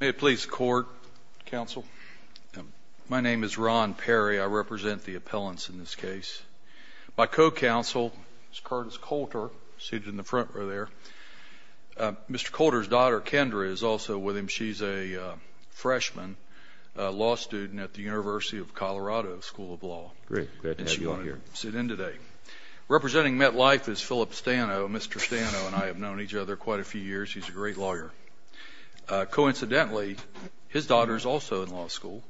May it please the Court, Counsel? My name is Ron Perry. I represent the appellants in this case. My co-counsel is Curtis Coulter, seated in the front row there. Mr. Coulter's daughter, Kendra, is also with him. She's a freshman law student at the University of Colorado School of Law. Great. Glad to have you on here. And she wanted to sit in today. Representing MetLife is Philip Stano. Mr. Stano and I have known each other quite a few years. He's a great lawyer. Coincidentally, his daughter is also in law school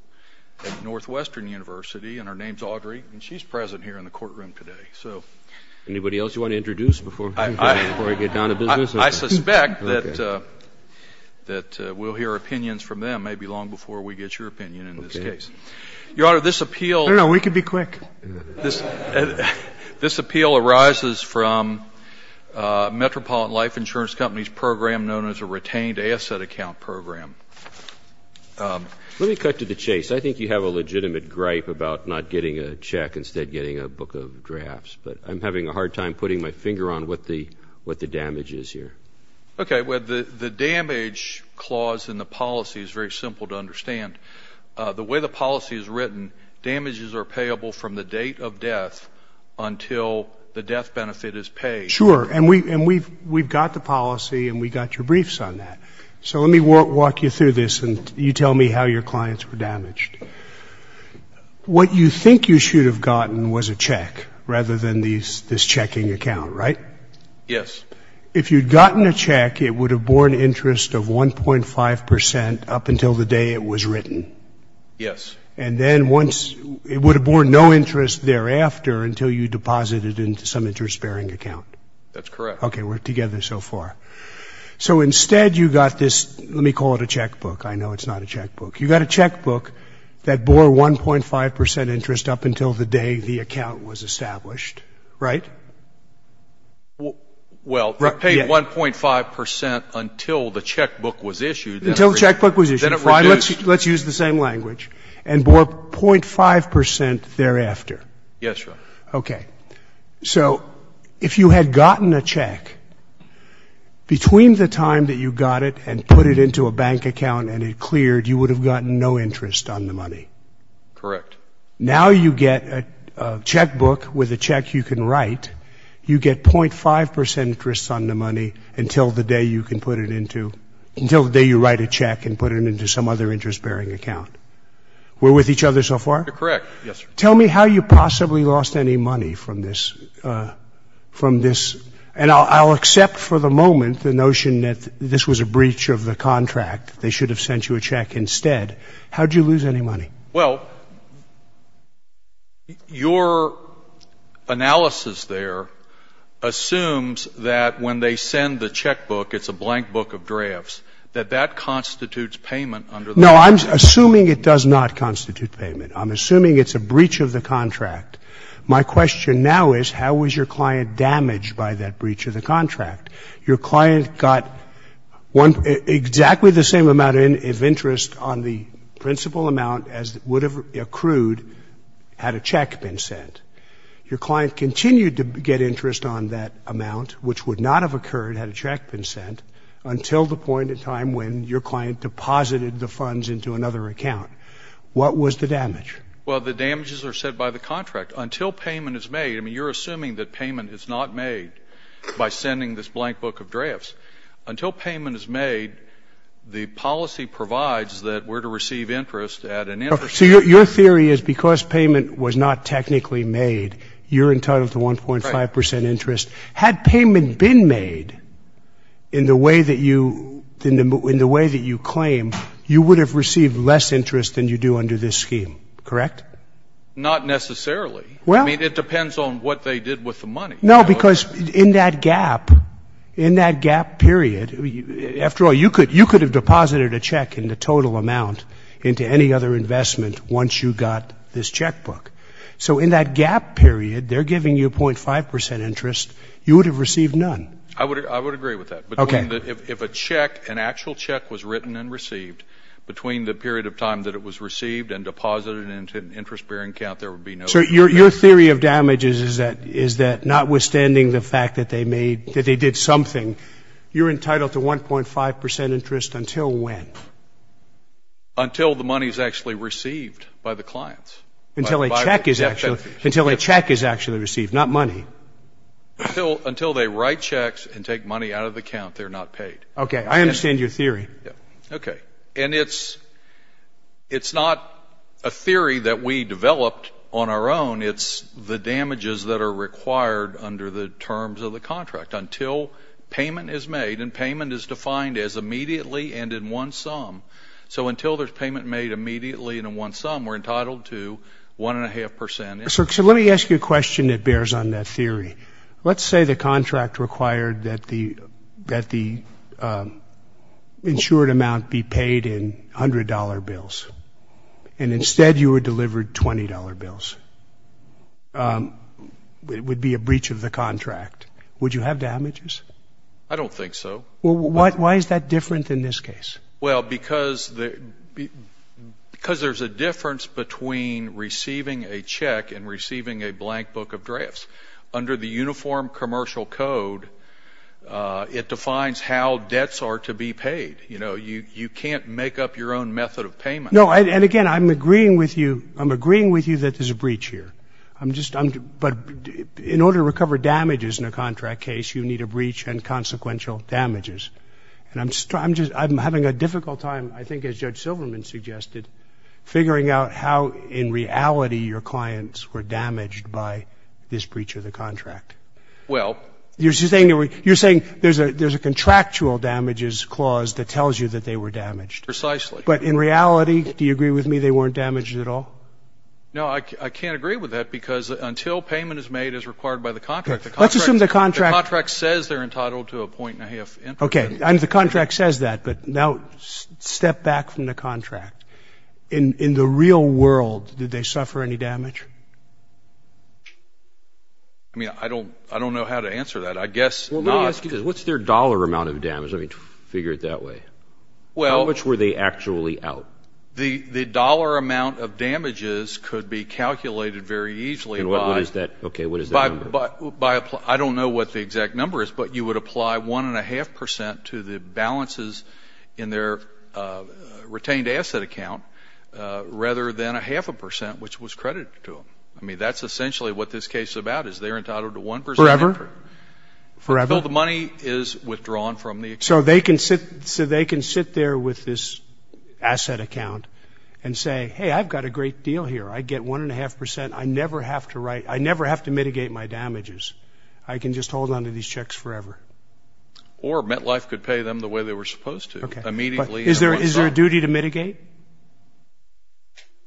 at Northwestern University, and her name's Audrey, and she's present here in the courtroom today. Anybody else you want to introduce before we get down to business? I suspect that we'll hear opinions from them maybe long before we get your opinion in this case. Your Honor, this appeal— No, no, we can be quick. This appeal arises from Metropolitan Life Insurance Company's program known as a retained asset account program. Let me cut to the chase. I think you have a legitimate gripe about not getting a check instead of getting a book of drafts, but I'm having a hard time putting my finger on what the damage is here. Okay. Well, the damage clause in the policy is very simple to understand. The way the policy is written, damages are payable from the date of death until the death benefit is paid. Sure. And we've got the policy, and we got your briefs on that. So let me walk you through this, and you tell me how your clients were damaged. What you think you should have gotten was a check rather than this checking account, right? Yes. If you'd gotten a check, it would have borne interest of 1.5 percent up until the day it was written. Yes. And then once—it would have borne no interest thereafter until you deposited into some interest-bearing account. That's correct. Okay, we're together so far. So instead you got this—let me call it a checkbook. I know it's not a checkbook. You got a checkbook that bore 1.5 percent interest up until the day the account was established, right? Well, it paid 1.5 percent until the checkbook was issued. Until the checkbook was issued. Then it reduced. Let's use the same language. And bore 0.5 percent thereafter. Yes, Your Honor. Okay. So if you had gotten a check, between the time that you got it and put it into a bank account and it cleared, you would have gotten no interest on the money. Correct. Now you get a checkbook with a check you can write. You get 0.5 percent interest on the money until the day you can put it into—until the day you write a check and put it into some other interest-bearing account. We're with each other so far? You're correct. Yes, sir. Tell me how you possibly lost any money from this. And I'll accept for the moment the notion that this was a breach of the contract. They should have sent you a check instead. How did you lose any money? Well, your analysis there assumes that when they send the checkbook, it's a blank book of drafts, that that constitutes payment under the contract. No, I'm assuming it does not constitute payment. I'm assuming it's a breach of the contract. My question now is how was your client damaged by that breach of the contract? Your client got exactly the same amount of interest on the principal amount as would have accrued had a check been sent. Your client continued to get interest on that amount, which would not have occurred had a check been sent, until the point in time when your client deposited the funds into another account. What was the damage? Well, the damages are set by the contract. Until payment is made, I mean, you're assuming that payment is not made by sending this blank book of drafts. Until payment is made, the policy provides that we're to receive interest at an interest level. So your theory is because payment was not technically made, you're entitled to 1.5 percent interest. Right. Had payment been made in the way that you claim, you would have received less interest than you do under this scheme, correct? Not necessarily. Well. I mean, it depends on what they did with the money. No, because in that gap, in that gap period, after all, you could have deposited a check in the total amount into any other investment once you got this checkbook. So in that gap period, they're giving you 0.5 percent interest. You would have received none. I would agree with that. Okay. If a check, an actual check was written and received, between the period of time that it was received and deposited into an interest-bearing account, there would be no damage. So your theory of damages is that notwithstanding the fact that they did something, you're entitled to 1.5 percent interest until when? Until the money is actually received by the clients. Until a check is actually received, not money. Until they write checks and take money out of the account, they're not paid. Okay. I understand your theory. Okay. And it's not a theory that we developed on our own. It's the damages that are required under the terms of the contract until payment is made, and payment is defined as immediately and in one sum. So until there's payment made immediately and in one sum, we're entitled to 1.5 percent. So let me ask you a question that bears on that theory. Let's say the contract required that the insured amount be paid in $100 bills, and instead you were delivered $20 bills. It would be a breach of the contract. Would you have damages? I don't think so. Why is that different in this case? Well, because there's a difference between receiving a check and receiving a blank book of drafts. Under the Uniform Commercial Code, it defines how debts are to be paid. You know, you can't make up your own method of payment. No, and again, I'm agreeing with you. I'm agreeing with you that there's a breach here. But in order to recover damages in a contract case, you need a breach and consequential damages. And I'm having a difficult time, I think as Judge Silverman suggested, figuring out how, in reality, your clients were damaged by this breach of the contract. Well. You're saying there's a contractual damages clause that tells you that they were damaged. Precisely. But in reality, do you agree with me they weren't damaged at all? No, I can't agree with that because until payment is made as required by the contract, the contract says they're entitled to a 1.5 percent. And the contract says that. But now step back from the contract. In the real world, did they suffer any damage? I mean, I don't know how to answer that. I guess not. Well, let me ask you this. What's their dollar amount of damage? I mean, figure it that way. Well. How much were they actually out? The dollar amount of damages could be calculated very easily by... And what is that? Okay. What is that number? I don't know what the exact number is, but you would apply 1.5 percent to the balances in their retained asset account rather than a half a percent, which was credited to them. I mean, that's essentially what this case is about is they're entitled to 1 percent. Forever? Forever. Until the money is withdrawn from the account. So they can sit there with this asset account and say, hey, I've got a great deal here. I get 1.5 percent. I never have to write... I never have to mitigate my damages. I can just hold on to these checks forever. Or MetLife could pay them the way they were supposed to. Okay. Immediately... Is there a duty to mitigate?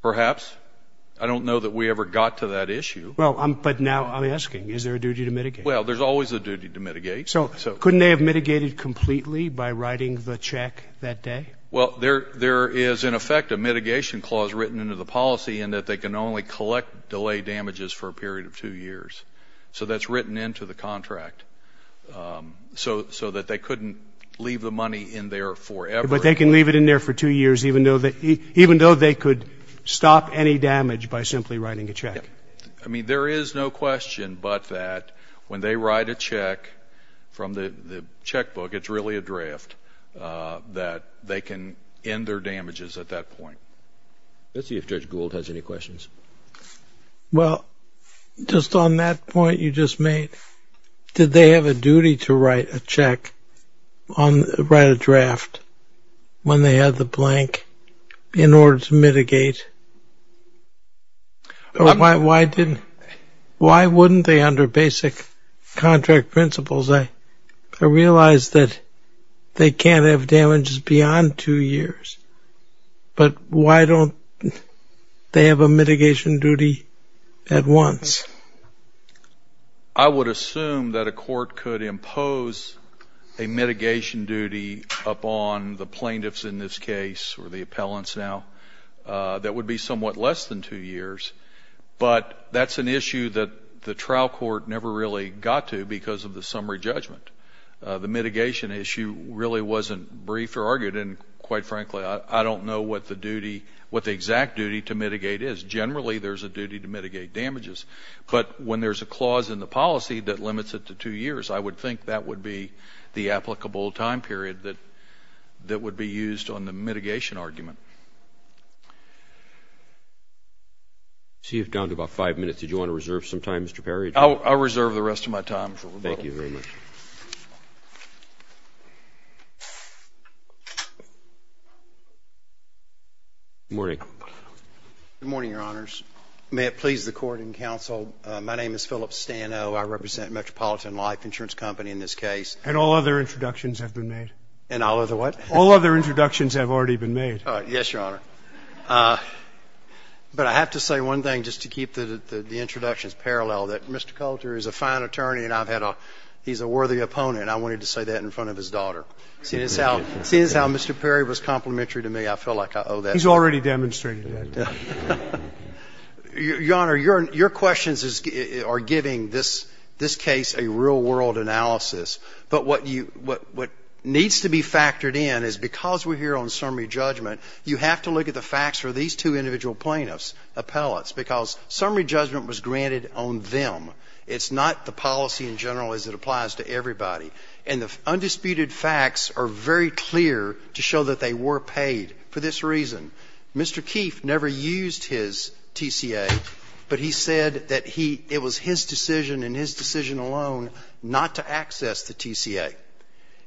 Perhaps. I don't know that we ever got to that issue. Well, but now I'm asking, is there a duty to mitigate? Well, there's always a duty to mitigate. So couldn't they have mitigated completely by writing the check that day? Well, there is, in effect, a mitigation clause written into the policy in that they can only collect delay damages for a period of two years. So that's written into the contract so that they couldn't leave the money in there forever. But they can leave it in there for two years even though they could stop any damage by simply writing a check? Yes. I mean, there is no question but that when they write a check from the checkbook, it's really a draft that they can end their damages at that point. Let's see if Judge Gould has any questions. Well, just on that point you just made, did they have a duty to write a check, write a draft when they had the blank in order to mitigate? Why wouldn't they under basic contract principles? I realize that they can't have damages beyond two years, but why don't they have a mitigation duty at once? I would assume that a court could impose a mitigation duty upon the plaintiffs in this case or the appellants now that would be somewhat less than two years, but that's an issue that the trial court never really got to because of the summary judgment. The mitigation issue really wasn't briefed or argued, and quite frankly, I don't know what the duty, what the exact duty to mitigate is. Generally, there's a duty to mitigate damages, but when there's a clause in the policy that limits it to two years, I would think that would be the applicable time period that would be used on the mitigation argument. So you've gone to about five minutes. Did you want to reserve some time, Mr. Perry? I'll reserve the rest of my time for rebuttal. Thank you very much. Good morning. Good morning, Your Honors. May it please the Court and Counsel, my name is Philip Stano. I represent Metropolitan Life Insurance Company in this case. And all other introductions have been made. And all other what? All other introductions have already been made. Yes, Your Honor. But I have to say one thing just to keep the introductions parallel, that Mr. Coulter is a fine attorney and I've had a, he's a worthy opponent. I wanted to say that in front of his daughter. Seeing as how Mr. Perry was complimentary to me, I feel like I owe that to him. He's already demonstrated that. Your Honor, your questions are giving this case a real-world analysis. But what needs to be factored in is because we're here on summary judgment, you have to look at the facts for these two individual plaintiffs, appellates, because summary judgment was granted on them. It's not the policy in general as it applies to everybody. And the undisputed facts are very clear to show that they were paid for this reason. Mr. Keefe never used his TCA, but he said that he, it was his decision and his decision alone not to access the TCA.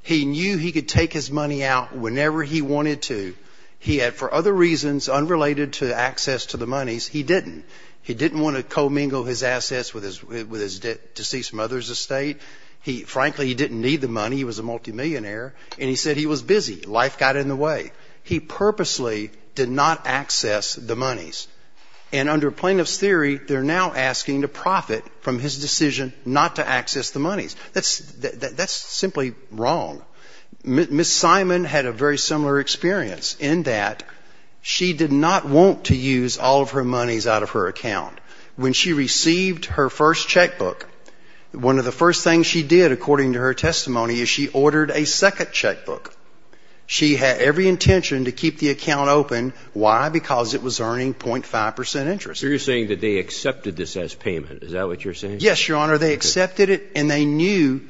He knew he could take his money out whenever he wanted to. He had, for other reasons unrelated to access to the monies, he didn't. He didn't want to commingle his assets with his deceased mother's estate. He, frankly, he didn't need the money. He was a multimillionaire. And he said he was busy. Life got in the way. He purposely did not access the monies. And under plaintiff's theory, they're now asking to profit from his decision not to access the monies. That's simply wrong. Ms. Simon had a very similar experience in that she did not want to use all of her monies out of her account. When she received her first checkbook, one of the first things she did, according to her testimony, is she ordered a second checkbook. She had every intention to keep the account open. Why? Because it was earning .5 percent interest. So you're saying that they accepted this as payment. Is that what you're saying? Yes, Your Honor. They accepted it, and they knew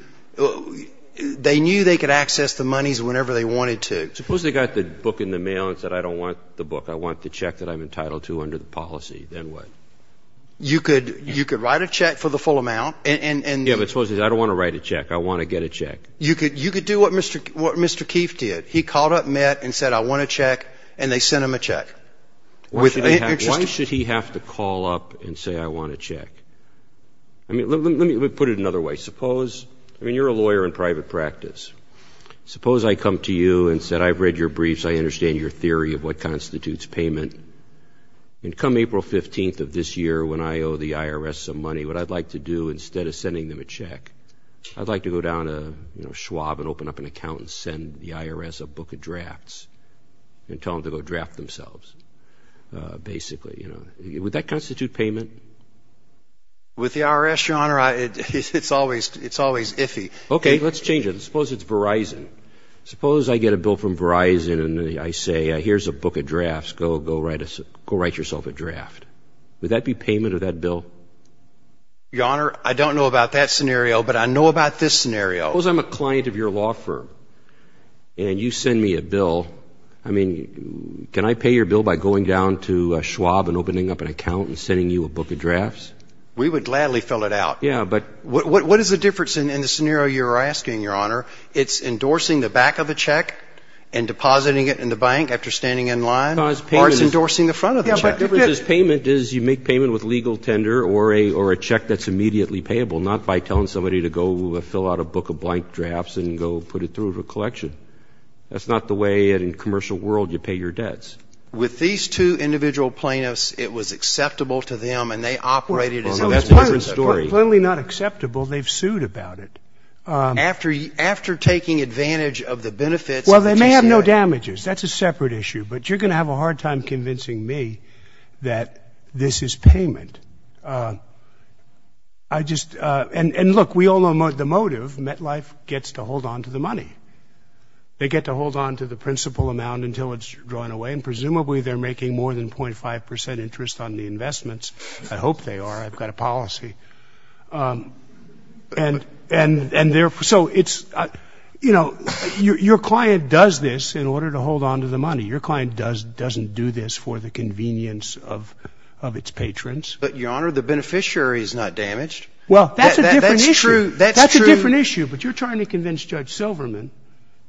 they could access the monies whenever they wanted to. Suppose they got the book in the mail and said, I don't want the book. I want the check that I'm entitled to under the policy. Then what? You could write a check for the full amount. Yeah, but suppose they said, I don't want to write a check. I want to get a check. You could do what Mr. Keefe did. He called up MET and said, I want a check, and they sent him a check. Why should he have to call up and say, I want a check? I mean, let me put it another way. Suppose, I mean, you're a lawyer in private practice. Suppose I come to you and said, I've read your briefs. I understand your theory of what constitutes payment. And come April 15th of this year when I owe the IRS some money, what I'd like to do instead of sending them a check, I'd like to go down to Schwab and open up an account and send the IRS a book of drafts and tell them to go draft themselves, basically. Would that constitute payment? With the IRS, Your Honor, it's always iffy. Okay, let's change it. Suppose it's Verizon. Suppose I get a bill from Verizon and I say, here's a book of drafts. Go write yourself a draft. Would that be payment of that bill? Your Honor, I don't know about that scenario, but I know about this scenario. Suppose I'm a client of your law firm and you send me a bill. I mean, can I pay your bill by going down to Schwab and opening up an account and sending you a book of drafts? We would gladly fill it out. What is the difference in the scenario you're asking, Your Honor? It's endorsing the back of the check and depositing it in the bank after standing in line, or it's endorsing the front of the check. The difference is payment is you make payment with legal tender or a check that's immediately payable, not by telling somebody to go fill out a book of blank drafts and go put it through a collection. That's not the way in a commercial world you pay your debts. With these two individual plaintiffs, it was acceptable to them and they operated as if it was their story. Clearly not acceptable. They've sued about it. After taking advantage of the benefits. Well, they may have no damages. That's a separate issue, but you're going to have a hard time convincing me that this is payment. And look, we all know the motive. MetLife gets to hold on to the money. They get to hold on to the principal amount until it's drawn away, and presumably they're making more than 0.5 percent interest on the investments. I hope they are. I've got a policy. And so it's, you know, your client does this in order to hold on to the money. Your client doesn't do this for the convenience of its patrons. But, Your Honor, the beneficiary is not damaged. Well, that's a different issue. That's true. That's a different issue. But you're trying to convince Judge Silverman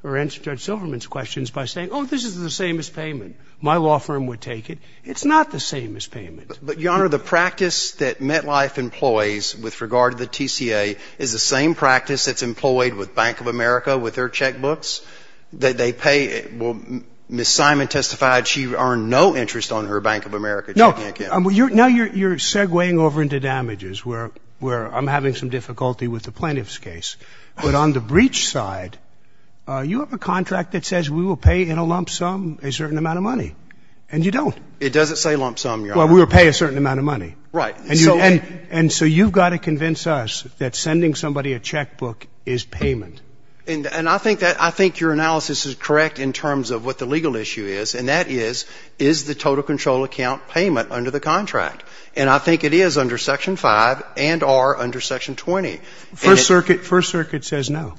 or answer Judge Silverman's questions by saying, oh, this is the same as payment. My law firm would take it. It's not the same as payment. But, Your Honor, the practice that MetLife employs with regard to the TCA is the same practice that's employed with Bank of America with their checkbooks. They pay Ms. Simon testified she earned no interest on her Bank of America checking account. Now you're segueing over into damages where I'm having some difficulty with the plaintiff's case. But on the breach side, you have a contract that says we will pay in a lump sum a certain amount of money, and you don't. It doesn't say lump sum, Your Honor. Well, we will pay a certain amount of money. Right. And so you've got to convince us that sending somebody a checkbook is payment. And I think that your analysis is correct in terms of what the legal issue is, and that is, is the total control account payment under the contract? And I think it is under Section 5 and are under Section 20. First Circuit says no.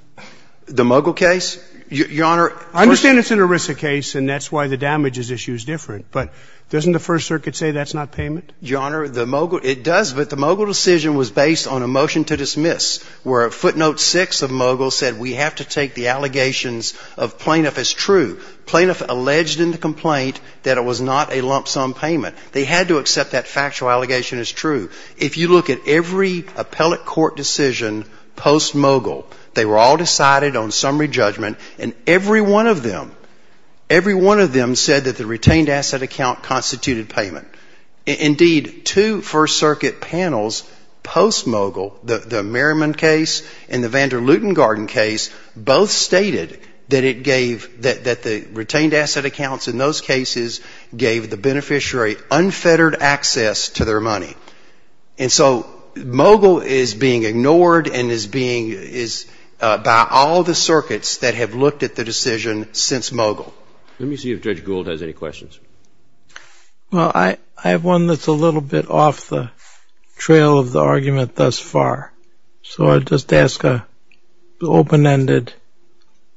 The Mogul case? Your Honor, I understand it's an ERISA case, and that's why the damages issue is different. But doesn't the First Circuit say that's not payment? Your Honor, the Mogul, it does. But the Mogul decision was based on a motion to dismiss where a footnote 6 of Mogul said we have to take the allegations of plaintiff as true. Plaintiff alleged in the complaint that it was not a lump sum payment. They had to accept that factual allegation as true. If you look at every appellate court decision post-Mogul, they were all decided on summary judgment, and every one of them, every one of them said that the retained asset account constituted payment. Indeed, two First Circuit panels post-Mogul, the Merriman case and the Van der Luten-Garden case, both stated that it gave, that the retained asset accounts in those cases gave the beneficiary unfettered access to their money. And so Mogul is being ignored and is being, is by all the circuits that have looked at the decision since Mogul. Let me see if Judge Gould has any questions. Well, I have one that's a little bit off the trail of the argument thus far, so I'll just ask an open-ended,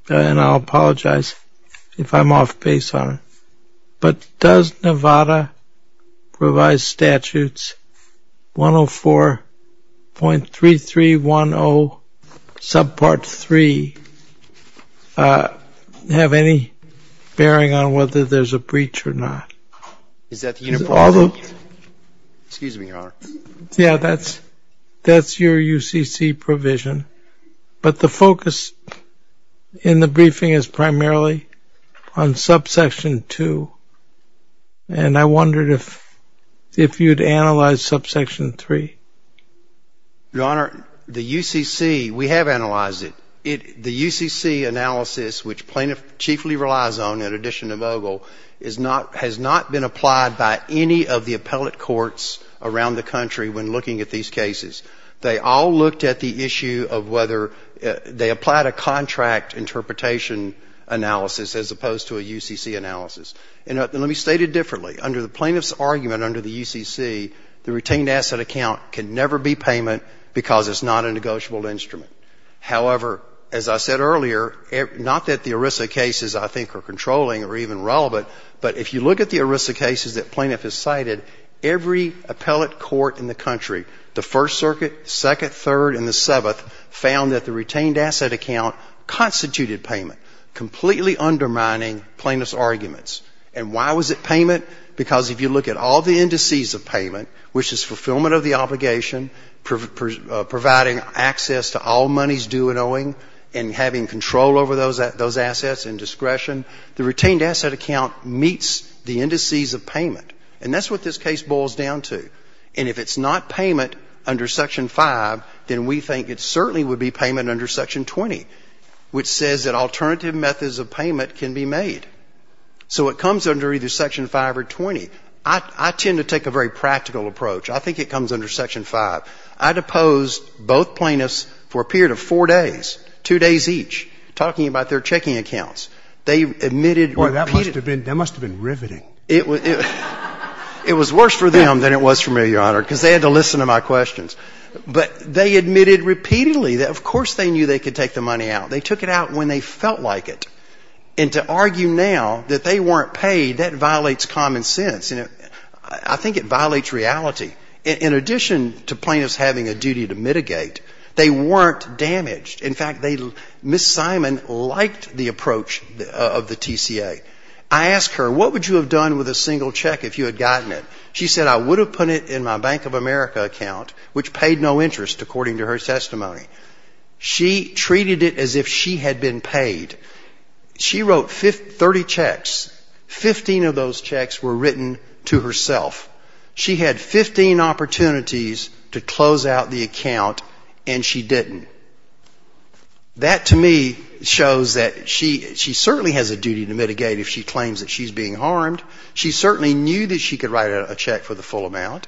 and I'll apologize if I'm off base on it. But does Nevada revised statutes 104.3310 subpart 3 have any bearing on whether there's a breach or not? Is that the uniform? Excuse me, Your Honor. Yeah, that's your UCC provision. But the focus in the briefing is primarily on subsection 2, and I wondered if you'd analyze subsection 3. Your Honor, the UCC, we have analyzed it. The UCC analysis, which plaintiff chiefly relies on in addition to Mogul, has not been applied by any of the appellate courts around the country when looking at these cases. They all looked at the issue of whether they applied a contract interpretation analysis as opposed to a UCC analysis. And let me state it differently. Under the plaintiff's argument under the UCC, the retained asset account can never be payment because it's not a negotiable instrument. However, as I said earlier, not that the ERISA cases I think are controlling or even relevant, but if you look at the ERISA cases that plaintiff has cited, every appellate court in the country, the First Circuit, Second, Third, and the Seventh, found that the retained asset account constituted payment, completely undermining plaintiff's arguments. And why was it payment? Because if you look at all the indices of payment, which is fulfillment of the obligation, providing access to all monies due and owing, and having control over those assets and discretion, the retained asset account meets the indices of payment. And that's what this case boils down to. And if it's not payment under Section 5, then we think it certainly would be payment under Section 20, which says that alternative methods of payment can be made. So it comes under either Section 5 or 20. I tend to take a very practical approach. I think it comes under Section 5. I deposed both plaintiffs for a period of four days, two days each, talking about their checking accounts. They admitted repeatedly. That must have been riveting. It was worse for them than it was for me, Your Honor, because they had to listen to my questions. But they admitted repeatedly that, of course, they knew they could take the money out. They took it out when they felt like it. And to argue now that they weren't paid, that violates common sense. I think it violates reality. In addition to plaintiffs having a duty to mitigate, they weren't damaged. In fact, Ms. Simon liked the approach of the TCA. I asked her, what would you have done with a single check if you had gotten it? She said, I would have put it in my Bank of America account, which paid no interest, according to her testimony. She treated it as if she had been paid. She wrote 30 checks. Fifteen of those checks were written to herself. She had 15 opportunities to close out the account, and she didn't. That, to me, shows that she certainly has a duty to mitigate if she claims that she's being harmed. She certainly knew that she could write a check for the full amount.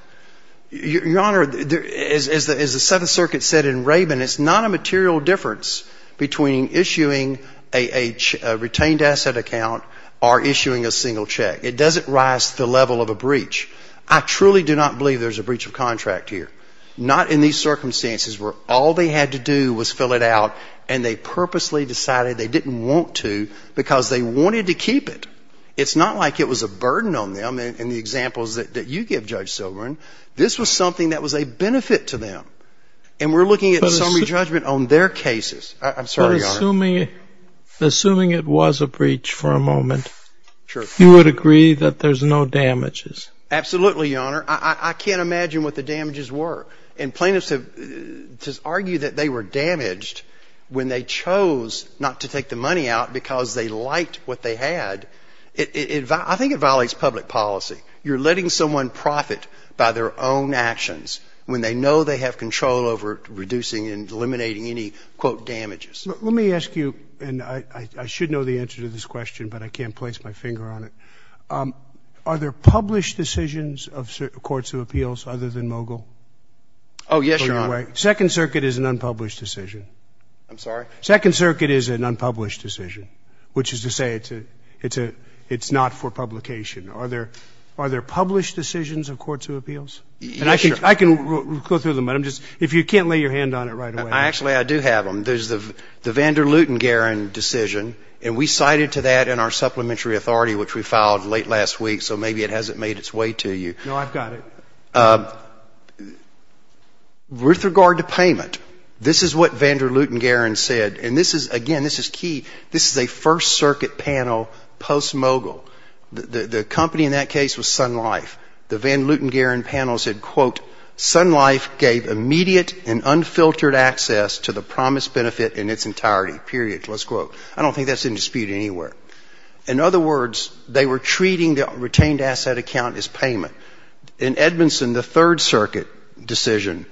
Your Honor, as the Seventh Circuit said in Rabin, it's not a material difference between issuing a retained asset account or issuing a single check. It doesn't rise to the level of a breach. I truly do not believe there's a breach of contract here. Not in these circumstances where all they had to do was fill it out, and they purposely decided they didn't want to because they wanted to keep it. It's not like it was a burden on them. In the examples that you give, Judge Silverman, this was something that was a benefit to them. And we're looking at a summary judgment on their cases. I'm sorry, Your Honor. But assuming it was a breach for a moment, you would agree that there's no damages? Absolutely, Your Honor. I can't imagine what the damages were. And plaintiffs argue that they were damaged when they chose not to take the money out because they liked what they had. I think it violates public policy. You're letting someone profit by their own actions when they know they have control over reducing and eliminating any, quote, damages. Let me ask you, and I should know the answer to this question, but I can't place my finger on it. Are there published decisions of courts of appeals other than Mogill? Oh, yes, Your Honor. Second Circuit is an unpublished decision. I'm sorry? Second Circuit is an unpublished decision, which is to say it's not for publication. Are there published decisions of courts of appeals? Yes, Your Honor. And I can go through them. If you can't lay your hand on it right away. Actually, I do have them. There's the Van der Luten-Garren decision, and we cited to that in our supplementary authority, which we filed late last week, so maybe it hasn't made its way to you. No, I've got it. With regard to payment, this is what Van der Luten-Garren said, and this is, again, this is key. This is a First Circuit panel post-Mogill. The company in that case was Sun Life. The Van der Luten-Garren panel said, quote, Sun Life gave immediate and unfiltered access to the promised benefit in its entirety, period, let's quote. I don't think that's in dispute anywhere. In other words, they were treating the retained asset account as payment. In Edmondson, the Third Circuit decision,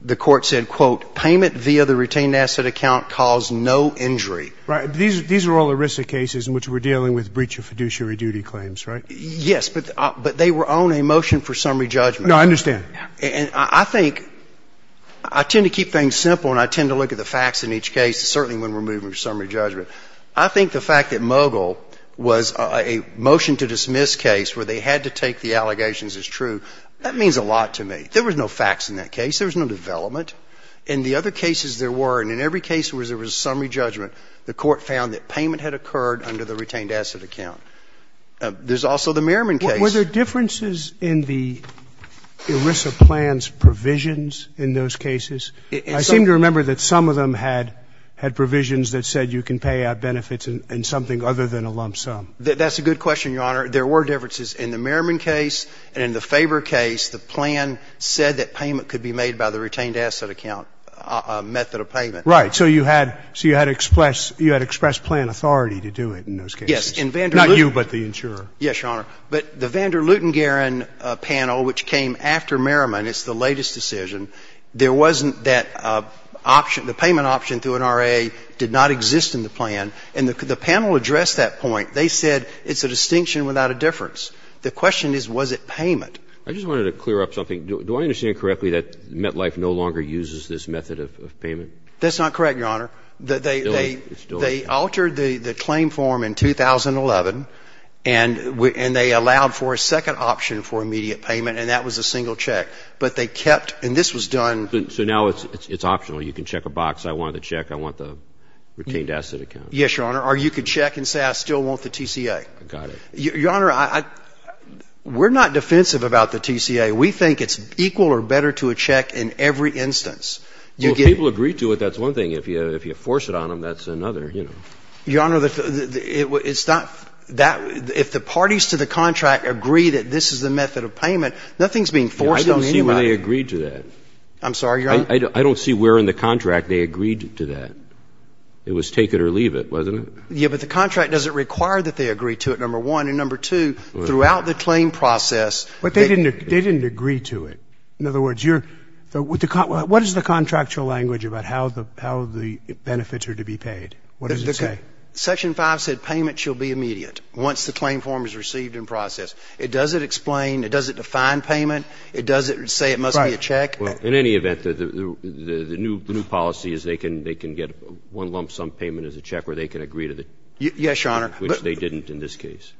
the court said, quote, payment via the retained asset account caused no injury. Right. These are all ERISA cases in which we're dealing with breach of fiduciary duty claims, right? Yes, but they were on a motion for summary judgment. No, I understand. And I think I tend to keep things simple, and I tend to look at the facts in each case, certainly when we're moving to summary judgment. I think the fact that Mogill was a motion to dismiss case where they had to take the allegations as true, that means a lot to me. There was no facts in that case. There was no development. In the other cases there were, and in every case where there was a summary judgment, the court found that payment had occurred under the retained asset account. There's also the Merriman case. Were there differences in the ERISA plan's provisions in those cases? I seem to remember that some of them had provisions that said you can pay out benefits in something other than a lump sum. That's a good question, Your Honor. There were differences in the Merriman case and in the Faber case. The plan said that payment could be made by the retained asset account method of payment. Right. So you had expressed plan authority to do it in those cases. Yes. Not you, but the insurer. Yes, Your Honor. But the Vanderluten-Garren panel, which came after Merriman, it's the latest decision, there wasn't that option, the payment option through an RA did not exist in the plan. And the panel addressed that point. They said it's a distinction without a difference. The question is, was it payment? I just wanted to clear up something. Do I understand correctly that MetLife no longer uses this method of payment? That's not correct, Your Honor. They altered the claim form in 2011, and they allowed for a second option for immediate payment, and that was a single check. But they kept, and this was done. So now it's optional. You can check a box, I want the check, I want the retained asset account. Yes, Your Honor. Or you could check and say I still want the TCA. Got it. Your Honor, we're not defensive about the TCA. We think it's equal or better to a check in every instance. Well, if people agree to it, that's one thing. If you force it on them, that's another, you know. Your Honor, it's not that, if the parties to the contract agree that this is the method of payment, nothing's being forced on anybody. I don't see where they agreed to that. I'm sorry, Your Honor? I don't see where in the contract they agreed to that. It was take it or leave it, wasn't it? Yeah, but the contract doesn't require that they agree to it, number one. And number two, throughout the claim process. But they didn't agree to it. In other words, what is the contractual language about how the benefits are to be paid? What does it say? Section 5 said payment shall be immediate once the claim form is received and processed. It doesn't explain, it doesn't define payment. It doesn't say it must be a check. Right. Well, in any event, the new policy is they can get one lump sum payment as a check where they can agree to it. Which they didn't in this case.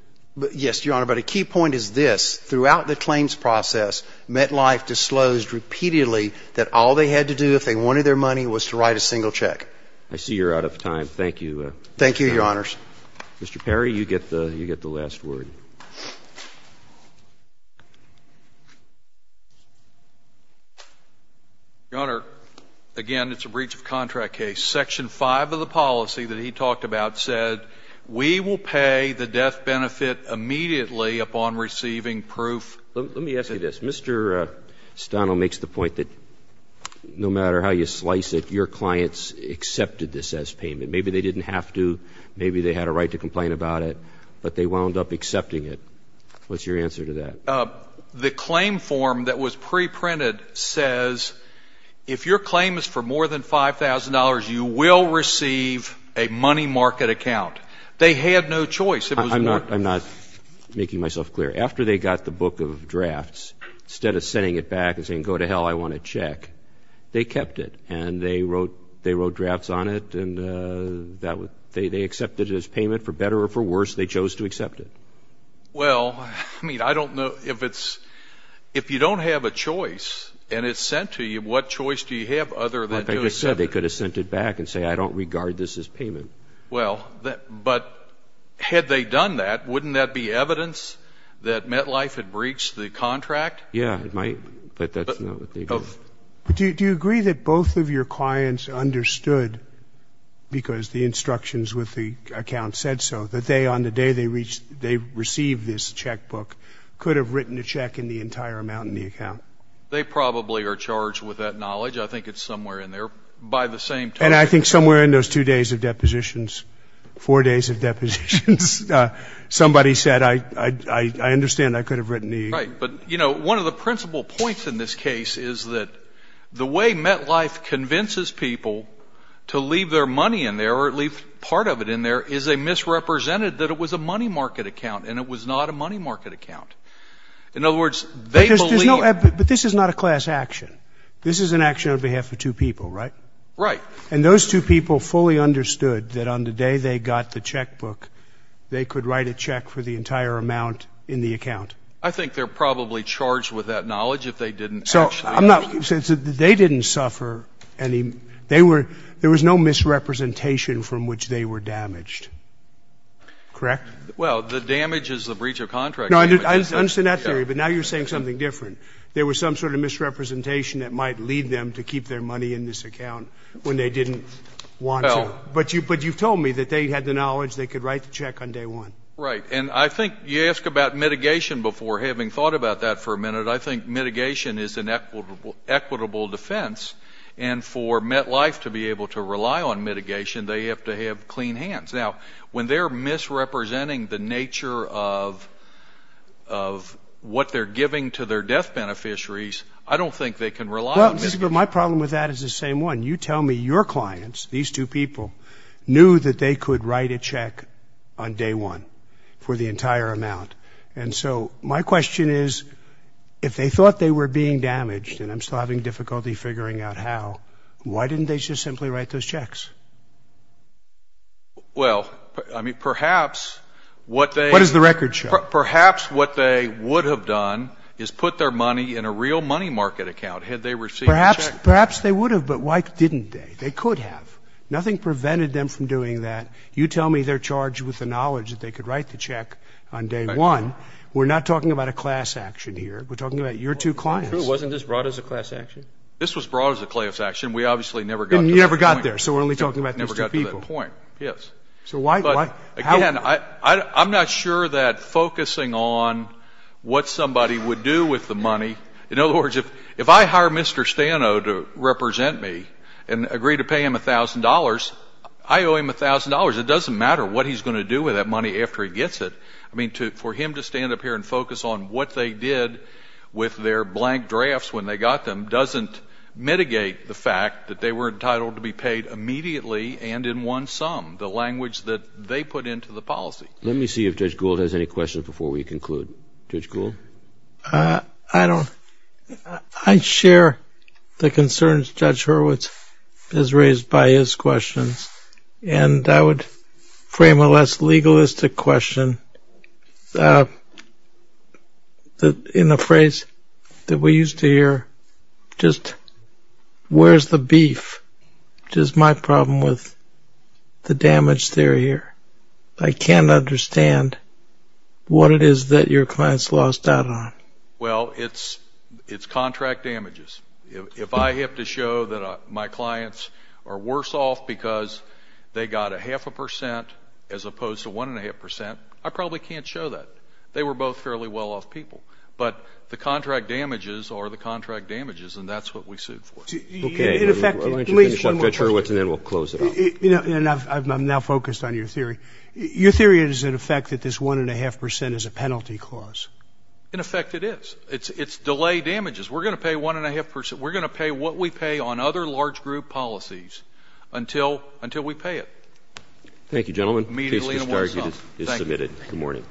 Yes, Your Honor. But a key point is this. Throughout the claims process, MetLife disclosed repeatedly that all they had to do if they wanted their money was to write a single check. I see you're out of time. Thank you. Thank you, Your Honors. Mr. Perry, you get the last word. Your Honor, again, it's a breach of contract case. Section 5 of the policy that he talked about said we will pay the death benefit immediately upon receiving proof. Let me ask you this. Mr. Stano makes the point that no matter how you slice it, your clients accepted this as payment. Maybe they didn't have to. Maybe they had a right to complain about it. But they wound up accepting it. What's your answer to that? The claim form that was preprinted says if your claim is for more than $5,000, you will receive a money market account. They had no choice. I'm not making myself clear. After they got the book of drafts, instead of sending it back and saying, go to hell, I want a check, they kept it. And they wrote drafts on it. And they accepted it as payment for better or for worse. They chose to accept it. Well, I mean, I don't know if it's – if you don't have a choice and it's sent to you, what choice do you have other than to accept it? They could have sent it back and said, I don't regard this as payment. Well, but had they done that, wouldn't that be evidence that MetLife had breached the contract? Yeah, it might. But that's not what they did. Do you agree that both of your clients understood, because the instructions with the account said so, that they, on the day they received this checkbook, could have written a check in the entire amount in the account? They probably are charged with that knowledge. I think it's somewhere in there, by the same token. And I think somewhere in those two days of depositions, four days of depositions, somebody said, I understand I could have written the – Right. But, you know, one of the principal points in this case is that the way MetLife convinces people to leave their money in there or leave part of it in there is they misrepresented that it was a money market account and it was not a money market account. In other words, they believe – But this is not a class action. This is an action on behalf of two people, right? Right. And those two people fully understood that on the day they got the checkbook, they could write a check for the entire amount in the account? I think they're probably charged with that knowledge if they didn't actually – So I'm not – they didn't suffer any – they were – there was no misrepresentation from which they were damaged. Correct? Well, the damage is the breach of contract damage. No, I understand that theory, but now you're saying something different. There was some sort of misrepresentation that might lead them to keep their money in this account when they didn't want to. But you've told me that they had the knowledge they could write the check on day one. Right. And I think you ask about mitigation before having thought about that for a minute. I think mitigation is an equitable defense, and for MetLife to be able to rely on mitigation, they have to have clean hands. Now, when they're misrepresenting the nature of what they're giving to their death beneficiaries, I don't think they can rely on mitigation. Well, my problem with that is the same one. You tell me your clients, these two people, knew that they could write a check on day one for the entire amount. And so my question is, if they thought they were being damaged, and I'm still having difficulty figuring out how, why didn't they just simply write those checks? Well, I mean, perhaps what they – What is the record show? Perhaps what they would have done is put their money in a real money market account had they received the check. Perhaps they would have, but why didn't they? They could have. Nothing prevented them from doing that. You tell me they're charged with the knowledge that they could write the check on day one. We're not talking about a class action here. We're talking about your two clients. True. Wasn't this brought as a class action? This was brought as a class action. We obviously never got to that point. You never got there, so we're only talking about these two people. Never got to that point, yes. So why – Again, I'm not sure that focusing on what somebody would do with the money – in other words, if I hire Mr. Stano to represent me and agree to pay him $1,000, I owe him $1,000. It doesn't matter what he's going to do with that money after he gets it. I mean, for him to stand up here and focus on what they did with their blank drafts when they got them doesn't mitigate the fact that they were entitled to be paid immediately and in one sum, the language that they put into the policy. Let me see if Judge Gould has any questions before we conclude. Judge Gould? I don't – I share the concerns Judge Hurwitz has raised by his questions, and I would frame a less legalistic question in a phrase that we used to hear, just where's the beef, which is my problem with the damage theory here. I can't understand what it is that your clients lost out on. Well, it's contract damages. If I have to show that my clients are worse off because they got a half a percent as opposed to one and a half percent, I probably can't show that. They were both fairly well-off people. But the contract damages are the contract damages, and that's what we sued for. Okay. Let me just finish up, Judge Hurwitz, and then we'll close it off. I'm now focused on your theory. Your theory is, in effect, that this one and a half percent is a penalty clause. In effect, it is. It's delay damages. We're going to pay one and a half percent. We're going to pay what we pay on other large group policies until we pay it. Thank you, gentlemen. The case is submitted. Good morning.